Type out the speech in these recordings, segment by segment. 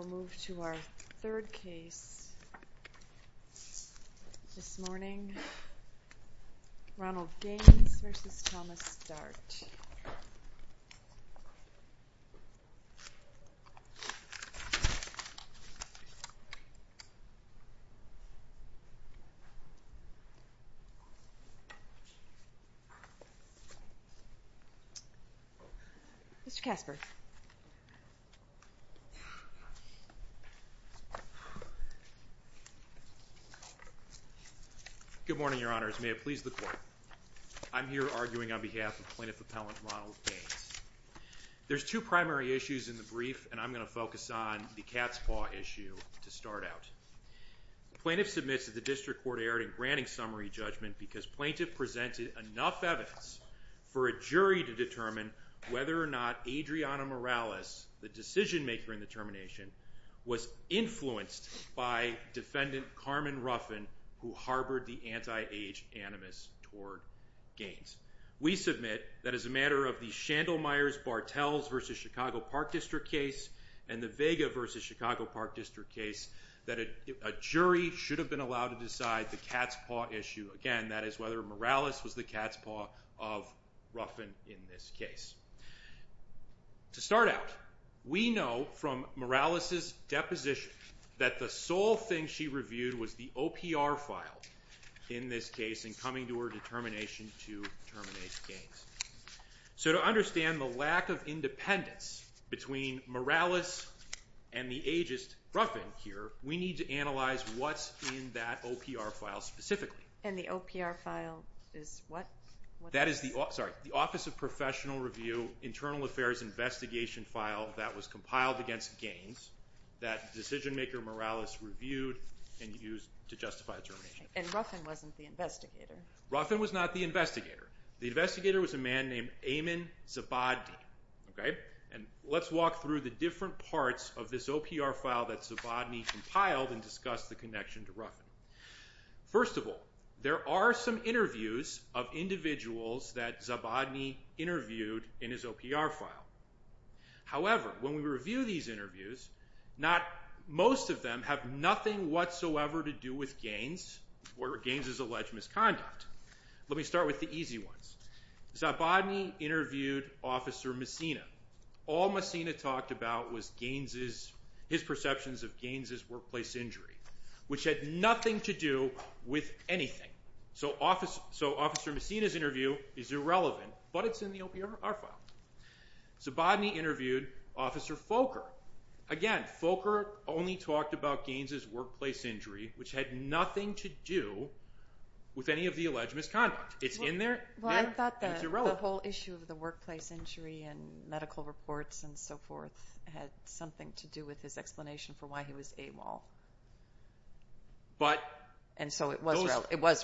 We'll move to our third case this morning. Ronald Gaines v. Thomas J. Dart Mr. Gaines. Mr. Casper. Good morning, Your Honors. May it please the Court. I'm here arguing on behalf of Plaintiff Appellant Ronald Gaines. There's two primary issues in the brief, and I'm going to focus on the cat's paw issue to start out. The Plaintiff submits that the District Court erred in granting summary judgment because Plaintiff presented enough evidence for a jury to determine whether or not Adriana Morales, the decision maker in the termination, was influenced by Defendant Carmen Ruffin, who harbored the anti-age animus toward Gaines. We submit that as a matter of the Shandlemeyers-Bartels v. Chicago Park District case and the Vega v. Chicago Park District case, that a jury should have been allowed to decide the cat's paw issue. Again, that is whether Morales was the cat's paw of Ruffin in this case. To start out, we know from Morales' deposition that the sole thing she reviewed was the OPR file in this case in coming to her determination to terminate Gaines. So to understand the lack of independence between Morales and the ageist Ruffin here, we need to analyze what's in that OPR file specifically. And the OPR file is what? That is the Office of Professional Review Internal Affairs Investigation file that was compiled against Gaines that decision maker Morales reviewed and used to justify the termination. And Ruffin wasn't the investigator. Ruffin was not the investigator. The investigator was a man named Eamon Zabadne. And let's walk through the different parts of this OPR file that Zabadne compiled and discuss the connection to Ruffin. First of all, there are some interviews of individuals that Zabadne interviewed in his OPR file. However, when we review these interviews, most of them have nothing whatsoever to do with Gaines or Gaines' alleged misconduct. Let me start with the easy ones. Zabadne interviewed Officer Messina. All Messina talked about was his perceptions of Gaines' workplace injury, which had nothing to do with anything. So Officer Messina's interview is irrelevant, but it's in the OPR file. Zabadne interviewed Officer Folker. Again, Folker only talked about Gaines' workplace injury, which had nothing to do with any of the alleged misconduct. It's in there. It's irrelevant. Well, I thought the whole issue of the workplace injury and medical reports and so forth had something to do with his explanation for why he was AWOL. And so it was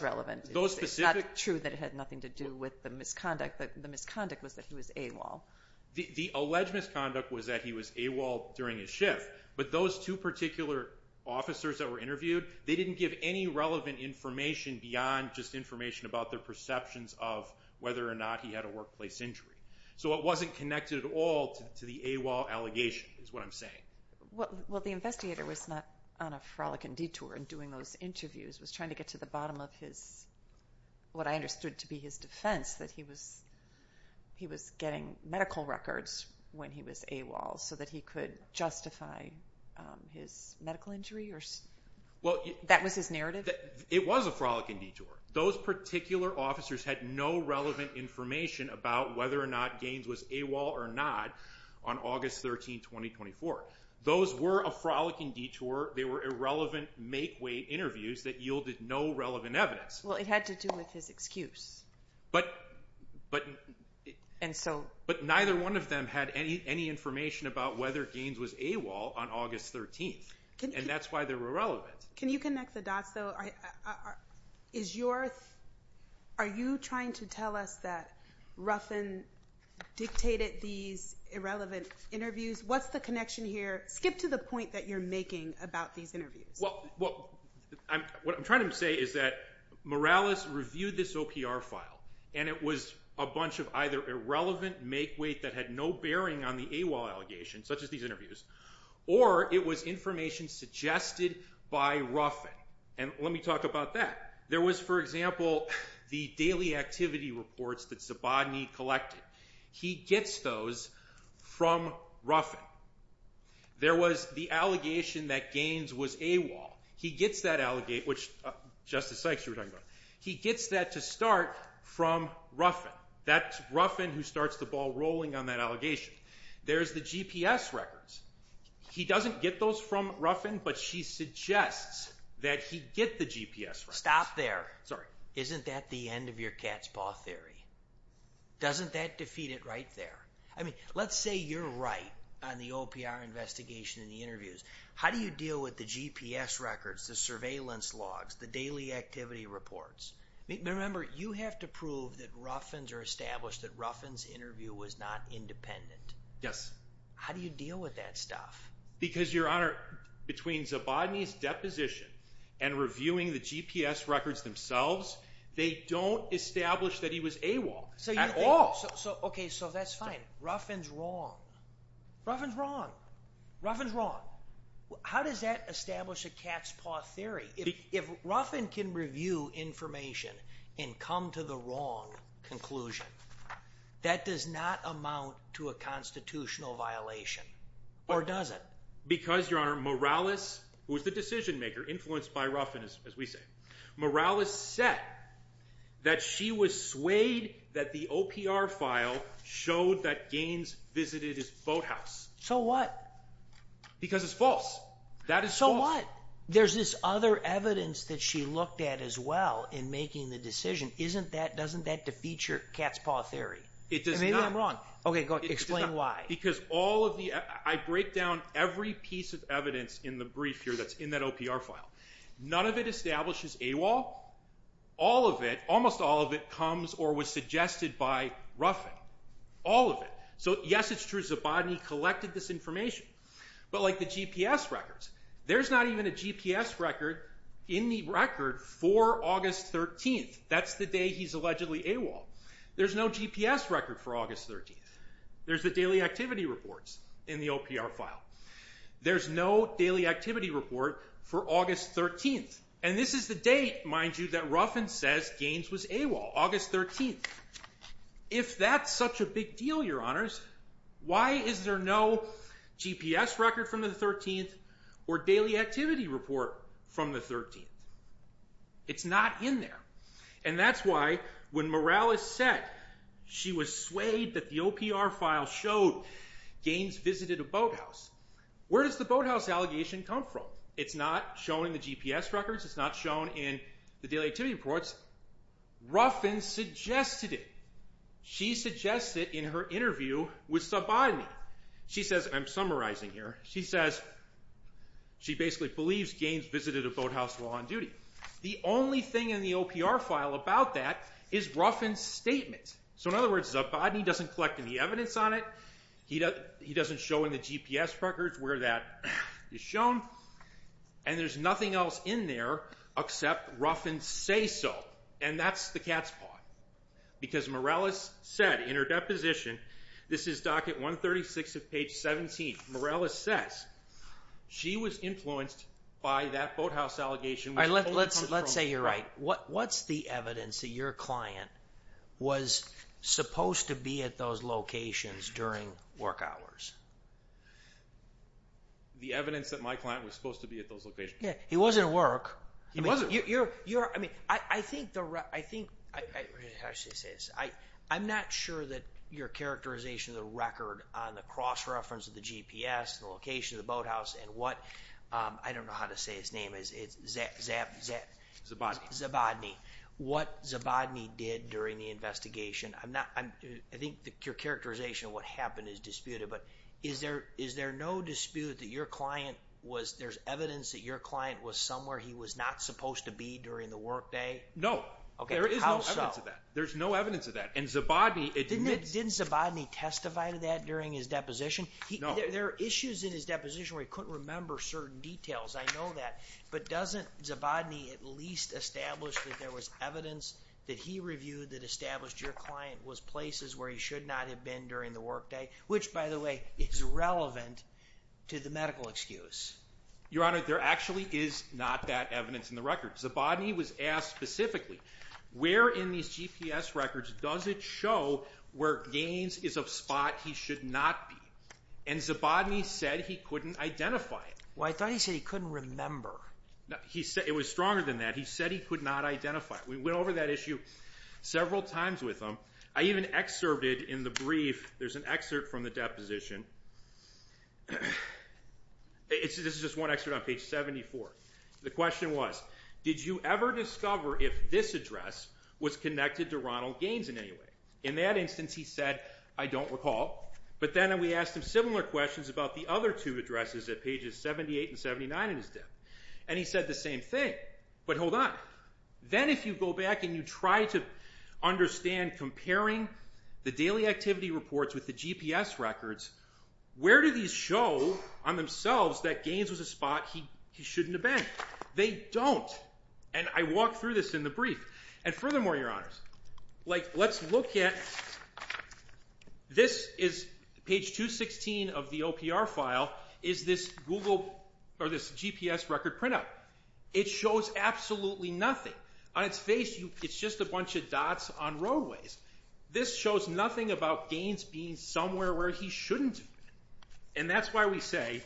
relevant. It's not true that it had nothing to do with the misconduct. The misconduct was that he was AWOL. The alleged misconduct was that he was AWOL during his shift, but those two particular officers that were interviewed, they didn't give any relevant information beyond just information about their perceptions of whether or not he had a workplace injury. So it wasn't connected at all to the AWOL allegation is what I'm saying. Well, the investigator was not on a frolicking detour in doing those interviews. He was trying to get to the bottom of what I understood to be his defense, that he was getting medical records when he was AWOL so that he could justify his medical injury. That was his narrative? It was a frolicking detour. Those particular officers had no relevant information about whether or not Gaines was AWOL or not on August 13, 2024. Those were a frolicking detour. They were irrelevant make-way interviews that yielded no relevant evidence. Well, it had to do with his excuse. But neither one of them had any information about whether Gaines was AWOL on August 13, and that's why they were irrelevant. Can you connect the dots, though? Are you trying to tell us that Ruffin dictated these irrelevant interviews? What's the connection here? Skip to the point that you're making about these interviews. Well, what I'm trying to say is that Morales reviewed this OPR file, and it was a bunch of either irrelevant make-way that had no bearing on the AWOL allegation, such as these interviews, or it was information suggested by Ruffin. And let me talk about that. There was, for example, the daily activity reports that Zabodny collected. He gets those from Ruffin. There was the allegation that Gaines was AWOL. He gets that to start from Ruffin. That's Ruffin who starts the ball rolling on that allegation. There's the GPS records. He doesn't get those from Ruffin, but she suggests that he get the GPS records. Stop there. Sorry. Isn't that the end of your cat's paw theory? Doesn't that defeat it right there? I mean, let's say you're right on the OPR investigation and the interviews. How do you deal with the GPS records, the surveillance logs, the daily activity reports? Remember, you have to prove that Ruffins are established, that Ruffin's interview was not independent. Yes. How do you deal with that stuff? Because, Your Honor, between Zabodny's deposition and reviewing the GPS records themselves, they don't establish that he was AWOL at all. Okay, so that's fine. Ruffin's wrong. Ruffin's wrong. Ruffin's wrong. How does that establish a cat's paw theory? If Ruffin can review information and come to the wrong conclusion, that does not amount to a constitutional violation. Or does it? Because, Your Honor, Morales, who was the decision-maker, influenced by Ruffin, as we say, Morales said that she was swayed that the OPR file showed that Gaines visited his boathouse. So what? Because it's false. That is false. So what? There's this other evidence that she looked at as well in making the decision. Doesn't that defeat your cat's paw theory? Maybe I'm wrong. Okay, go ahead. Explain why. Because I break down every piece of evidence in the brief here that's in that OPR file. None of it establishes AWOL. All of it, almost all of it, comes or was suggested by Ruffin. All of it. So, yes, it's true Zabodny collected this information. But like the GPS records, there's not even a GPS record in the record for August 13th. That's the day he's allegedly AWOL. There's no GPS record for August 13th. There's the daily activity reports in the OPR file. There's no daily activity report for August 13th. And this is the date, mind you, that Ruffin says Gaines was AWOL, August 13th. If that's such a big deal, Your Honors, why is there no GPS record from the 13th or daily activity report from the 13th? It's not in there. And that's why when Morales said she was swayed that the OPR file showed Gaines visited a boathouse, where does the boathouse allegation come from? It's not shown in the GPS records. It's not shown in the daily activity reports. Ruffin suggested it. She suggests it in her interview with Zabodny. She says, I'm summarizing here. She says she basically believes Gaines visited a boathouse while on duty. The only thing in the OPR file about that is Ruffin's statement. So in other words, Zabodny doesn't collect any evidence on it. He doesn't show in the GPS records where that is shown. And there's nothing else in there except Ruffin's say-so, and that's the cat's paw. Because Morales said in her deposition, this is docket 136 of page 17. Morales says she was influenced by that boathouse allegation. Let's say you're right. What's the evidence that your client was supposed to be at those locations during work hours? The evidence that my client was supposed to be at those locations. He wasn't at work. He wasn't. I think, I'm not sure that your characterization of the record on the cross-reference of the GPS, the location of the boathouse, and what, I don't know how to say his name, Zabodny. What Zabodny did during the investigation, I think your characterization of what happened is disputed. But is there no dispute that your client was, there's evidence that your client was somewhere he was not supposed to be during the workday? There is no evidence of that. There's no evidence of that. And Zabodny. Didn't Zabodny testify to that during his deposition? No. There are issues in his deposition where he couldn't remember certain details. I know that. But doesn't Zabodny at least establish that there was evidence that he reviewed that established your client was places where he should not have been during the workday? Which, by the way, is relevant to the medical excuse. Your Honor, there actually is not that evidence in the record. Zabodny was asked specifically, where in these GPS records does it show where Gaines is a spot he should not be? And Zabodny said he couldn't identify it. Well, I thought he said he couldn't remember. It was stronger than that. He said he could not identify it. We went over that issue several times with him. I even excerpted in the brief, there's an excerpt from the deposition. This is just one excerpt on page 74. The question was, did you ever discover if this address was connected to Ronald Gaines in any way? In that instance, he said, I don't recall. But then we asked him similar questions about the other two addresses at pages 78 and 79 in his death. And he said the same thing. But hold on. Then if you go back and you try to understand comparing the daily activity reports with the GPS records, where do these show on themselves that Gaines was a spot he shouldn't have been? They don't. And I walked through this in the brief. And furthermore, Your Honors, let's look at this is page 216 of the OPR file is this GPS record printout. It shows absolutely nothing. On its face, it's just a bunch of dots on roadways. This shows nothing about Gaines being somewhere where he shouldn't have been. And that's why we say,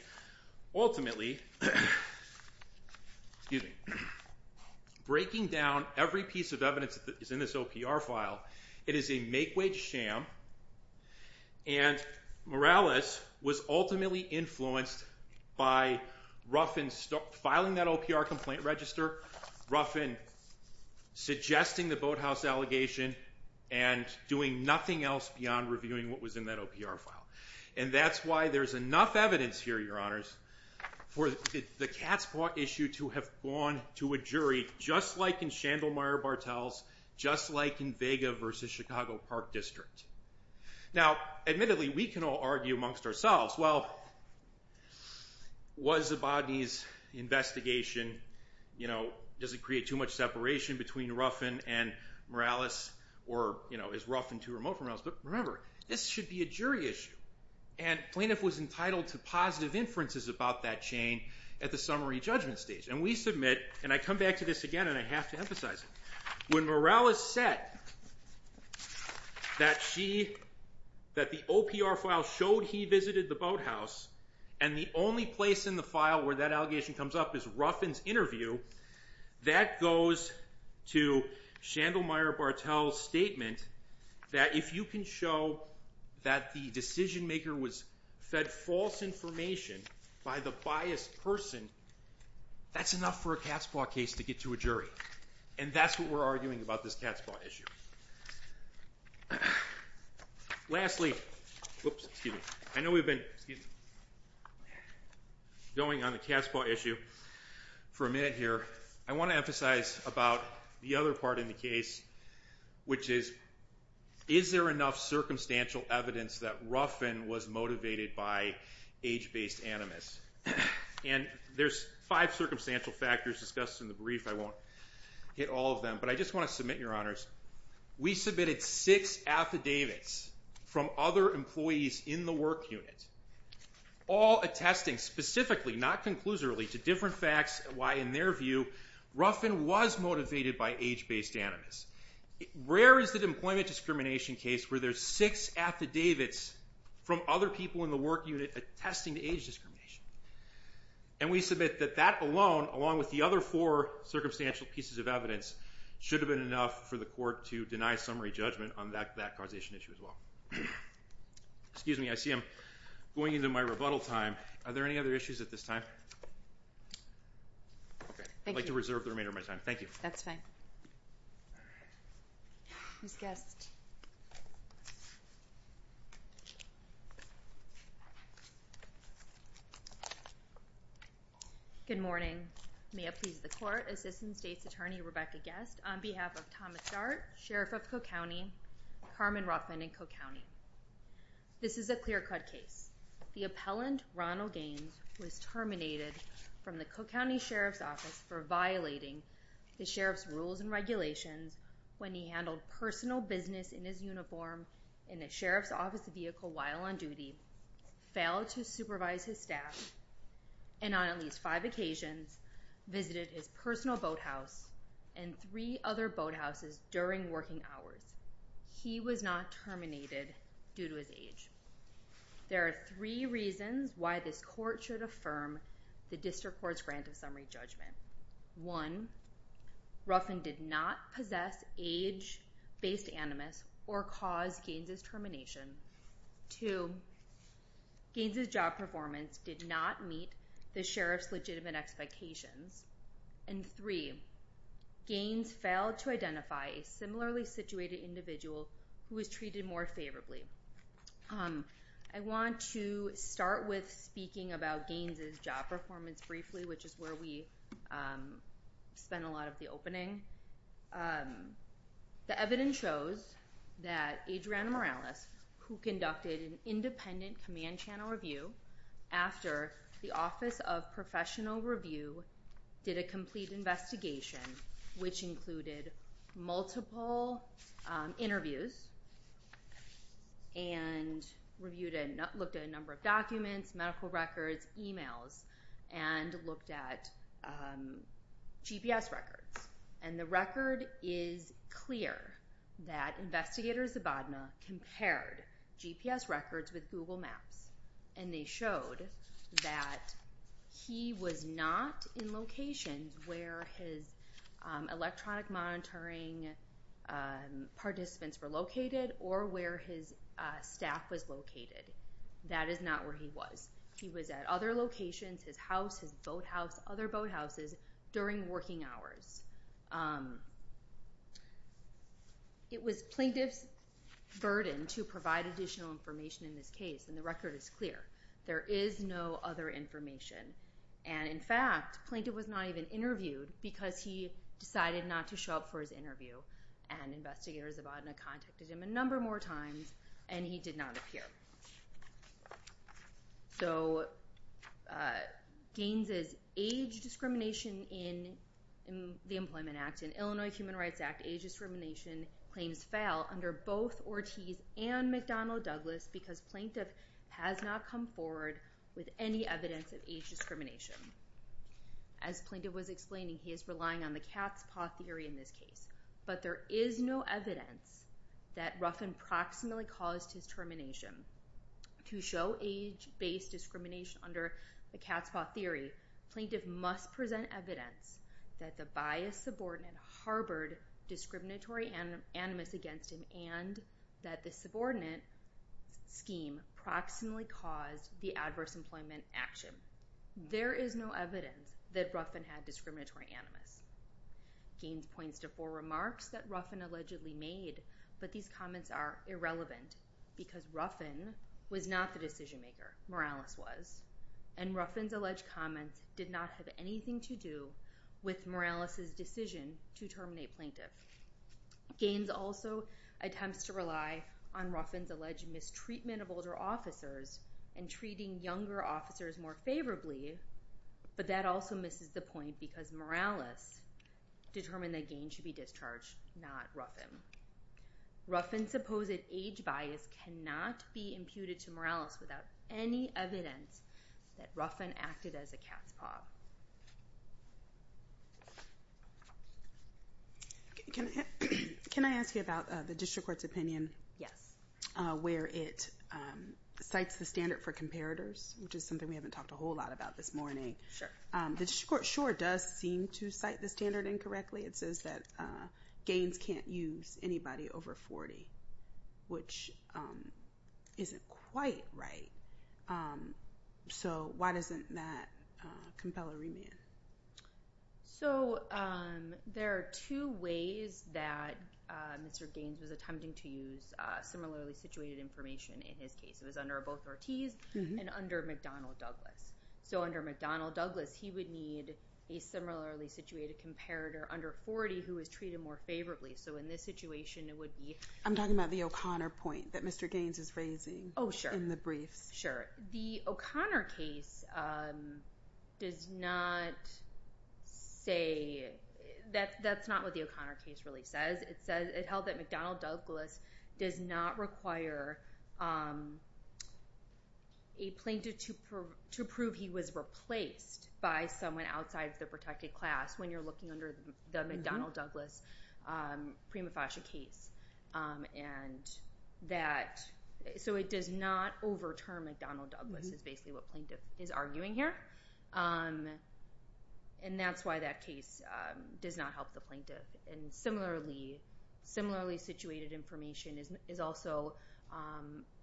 ultimately, breaking down every piece of evidence that is in this OPR file, it is a make-wage sham. And Morales was ultimately influenced by Ruffin filing that OPR complaint register, Ruffin suggesting the boathouse allegation, and doing nothing else beyond reviewing what was in that OPR file. And that's why there's enough evidence here, Your Honors, for the Katzbrock issue to have gone to a jury, just like in Shandlemeyer Bartels, just like in Vega v. Chicago Park District. Now, admittedly, we can all argue amongst ourselves, well, was Zabodny's investigation, you know, does it create too much separation between Ruffin and Morales? Or, you know, is Ruffin too remote from Morales? But remember, this should be a jury issue. And Plaintiff was entitled to positive inferences about that chain at the summary judgment stage. And we submit, and I come back to this again, and I have to emphasize it. When Morales said that the OPR file showed he visited the boathouse, and the only place in the file where that allegation comes up is Ruffin's interview, that goes to Shandlemeyer Bartels' statement that if you can show that the decision-maker was fed false information by the biased person, that's enough for a Katzbrock case to get to a jury. And that's what we're arguing about this Katzbrock issue. Lastly, I know we've been going on the Katzbrock issue for a minute here. I want to emphasize about the other part in the case, which is, is there enough circumstantial evidence that Ruffin was motivated by age-based animus? And there's five circumstantial factors discussed in the brief. I won't hit all of them, but I just want to submit, Your Honors, we submitted six affidavits from other employees in the work unit, all attesting specifically, not conclusively, to different facts why, in their view, Ruffin was motivated by age-based animus. Rare is the employment discrimination case where there's six affidavits from other people in the work unit attesting to age discrimination. And we submit that that alone, along with the other four circumstantial pieces of evidence, should have been enough for the court to deny summary judgment on that causation issue as well. Excuse me, I see I'm going into my rebuttal time. Are there any other issues at this time? I'd like to reserve the remainder of my time. Thank you. That's fine. Who's guest? Good morning. May it please the Court, Assistant State's Attorney, Rebecca Guest, on behalf of Thomas Dart, Sheriff of Cook County, Carmen Ruffin in Cook County. This is a clear-cut case. The appellant, Ronald Gaines, was terminated from the Cook County Sheriff's Office for violating the Sheriff's rules and regulations when he handled personal business in his uniform in the Sheriff's Office vehicle while on duty, failed to supervise his staff, and on at least five occasions visited his personal boathouse and three other boathouses during working hours. He was not terminated due to his age. There are three reasons why this Court should affirm the District Court's grant of summary judgment. One, Ruffin did not possess age-based animus or cause Gaines's termination. Two, Gaines's job performance did not meet the Sheriff's legitimate expectations. And three, Gaines failed to identify a similarly situated individual who was treated more favorably. I want to start with speaking about Gaines's job performance briefly, which is where we spent a lot of the opening. The evidence shows that Adriana Morales, who conducted an independent command channel review after the Office of Professional Review did a complete investigation, which included multiple interviews and looked at a number of documents, medical records, emails, and looked at GPS records. And the record is clear that investigators at Bodna compared GPS records with Google Maps. And they showed that he was not in locations where his electronic monitoring participants were located or where his staff was located. That is not where he was. He was at other locations, his house, his boathouse, other boathouses, during working hours. It was plaintiff's burden to provide additional information in this case, and the record is clear. There is no other information. And in fact, the plaintiff was not even interviewed because he decided not to show up for his interview. And investigators at Bodna contacted him a number more times, and he did not appear. So Gaines's age discrimination in the Employment Act and Illinois Human Rights Act age discrimination claims fail under both Ortiz and McDonnell Douglas because plaintiff has not come forward with any evidence of age discrimination. As plaintiff was explaining, he is relying on the cat's paw theory in this case. But there is no evidence that Ruffin proximately caused his termination. To show age-based discrimination under the cat's paw theory, plaintiff must present evidence that the biased subordinate harbored discriminatory animus against him and that the subordinate scheme proximately caused the adverse employment action. There is no evidence that Ruffin had discriminatory animus. Gaines points to four remarks that Ruffin allegedly made, but these comments are irrelevant because Ruffin was not the decision-maker. Morales was. And Ruffin's alleged comments did not have anything to do with Morales's decision to terminate plaintiff. Gaines also attempts to rely on Ruffin's alleged mistreatment of older officers and treating younger officers more favorably, but that also misses the point because Morales determined that Gaines should be discharged, not Ruffin. Ruffin's supposed age bias cannot be imputed to Morales without any evidence that Ruffin acted as a cat's paw. Can I ask you about the district court's opinion? Yes. Where it cites the standard for comparators, which is something we haven't talked a whole lot about this morning. The district court sure does seem to cite the standard incorrectly. It says that Gaines can't use anybody over 40, which isn't quite right. So why doesn't that compel a remand? So there are two ways that Mr. Gaines was attempting to use similarly situated information in his case. It was under both Ortiz and under McDonnell Douglas. So under McDonnell Douglas, he would need a similarly situated comparator under 40 who was treated more favorably. So in this situation, it would be— I'm talking about the O'Connor point that Mr. Gaines is raising in the briefs. Sure. The O'Connor case does not say—that's not what the O'Connor case really says. It held that McDonnell Douglas does not require a plaintiff to prove he was replaced by someone outside the protected class when you're looking under the McDonnell Douglas prima facie case. And that—so it does not overturn McDonnell Douglas is basically what plaintiff is arguing here. And that's why that case does not help the plaintiff. And similarly situated information is also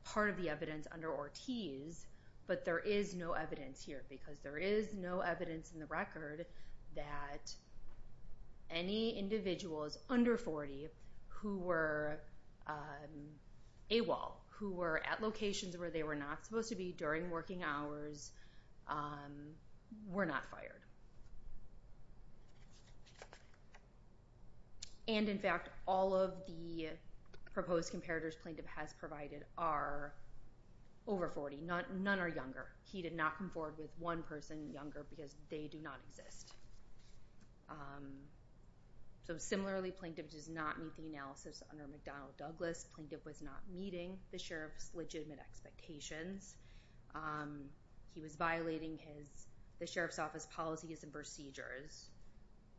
part of the evidence under Ortiz, but there is no evidence here because there is no evidence in the record that any individuals under 40 who were AWOL, who were at locations where they were not supposed to be during working hours, were not fired. And in fact, all of the proposed comparators plaintiff has provided are over 40. None are younger. He did not come forward with one person younger because they do not exist. So similarly, plaintiff does not meet the analysis under McDonnell Douglas. Plaintiff was not meeting the sheriff's legitimate expectations. He was violating the sheriff's office policies and procedures.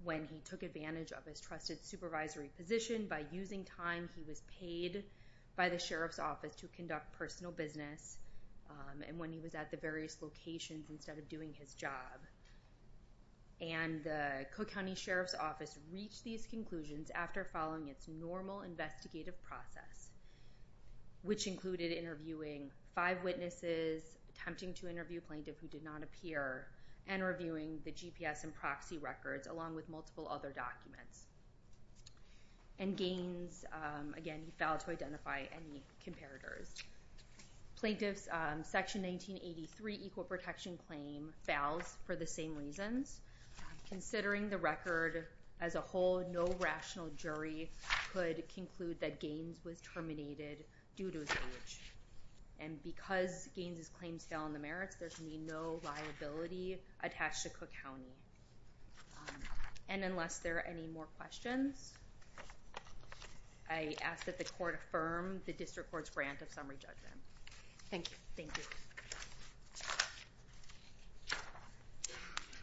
When he took advantage of his trusted supervisory position, by using time he was paid by the sheriff's office to conduct personal business. And when he was at the various locations instead of doing his job. And the Cook County Sheriff's Office reached these conclusions after following its normal investigative process, which included interviewing five witnesses, attempting to interview plaintiff who did not appear, and reviewing the GPS and proxy records along with multiple other documents. And Gaines, again, he failed to identify any comparators. Plaintiff's Section 1983 Equal Protection Claim fails for the same reasons. Considering the record as a whole, no rational jury could conclude that Gaines was terminated due to his age. And because Gaines' claims fell on the merits, there should be no liability attached to Cook County. And unless there are any more questions, I ask that the court affirm the district court's grant of summary judgment. Thank you. Thank you.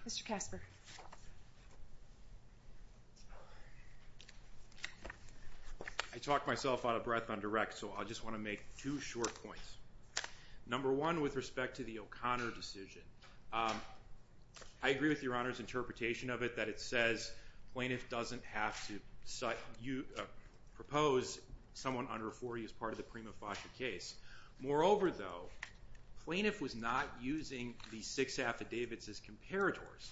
Mr. Casper. I talk myself out of breath on direct, so I just want to make two short points. Number one, with respect to the O'Connor decision, I agree with your Honor's interpretation of it, that it says plaintiff doesn't have to propose someone under 40 as part of the prima facie case. Moreover, though, plaintiff was not using these six affidavits as comparators.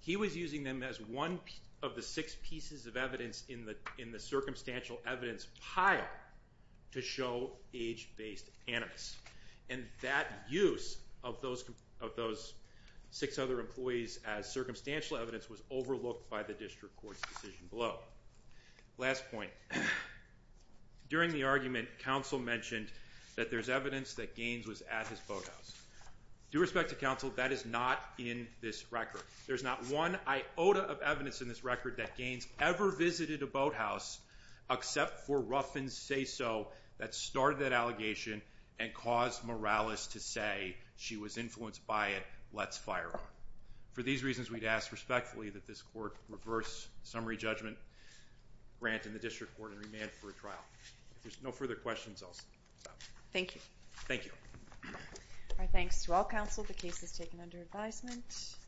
He was using them as one of the six pieces of evidence in the circumstantial evidence pile to show age-based animus. And that use of those six other employees as circumstantial evidence was overlooked by the district court's decision below. Last point. During the argument, counsel mentioned that there's evidence that Gaines was at his boathouse. Due respect to counsel, that is not in this record. There's not one iota of evidence in this record that Gaines ever visited a boathouse, except for Ruffin's say-so that started that allegation and caused Morales to say she was influenced by it. Let's fire her. For these reasons, we'd ask respectfully that this court reverse summary judgment grant in the district court and remand for a trial. If there's no further questions, I'll stop. Thank you. Thank you. Our thanks to all counsel. The case is taken under advisement.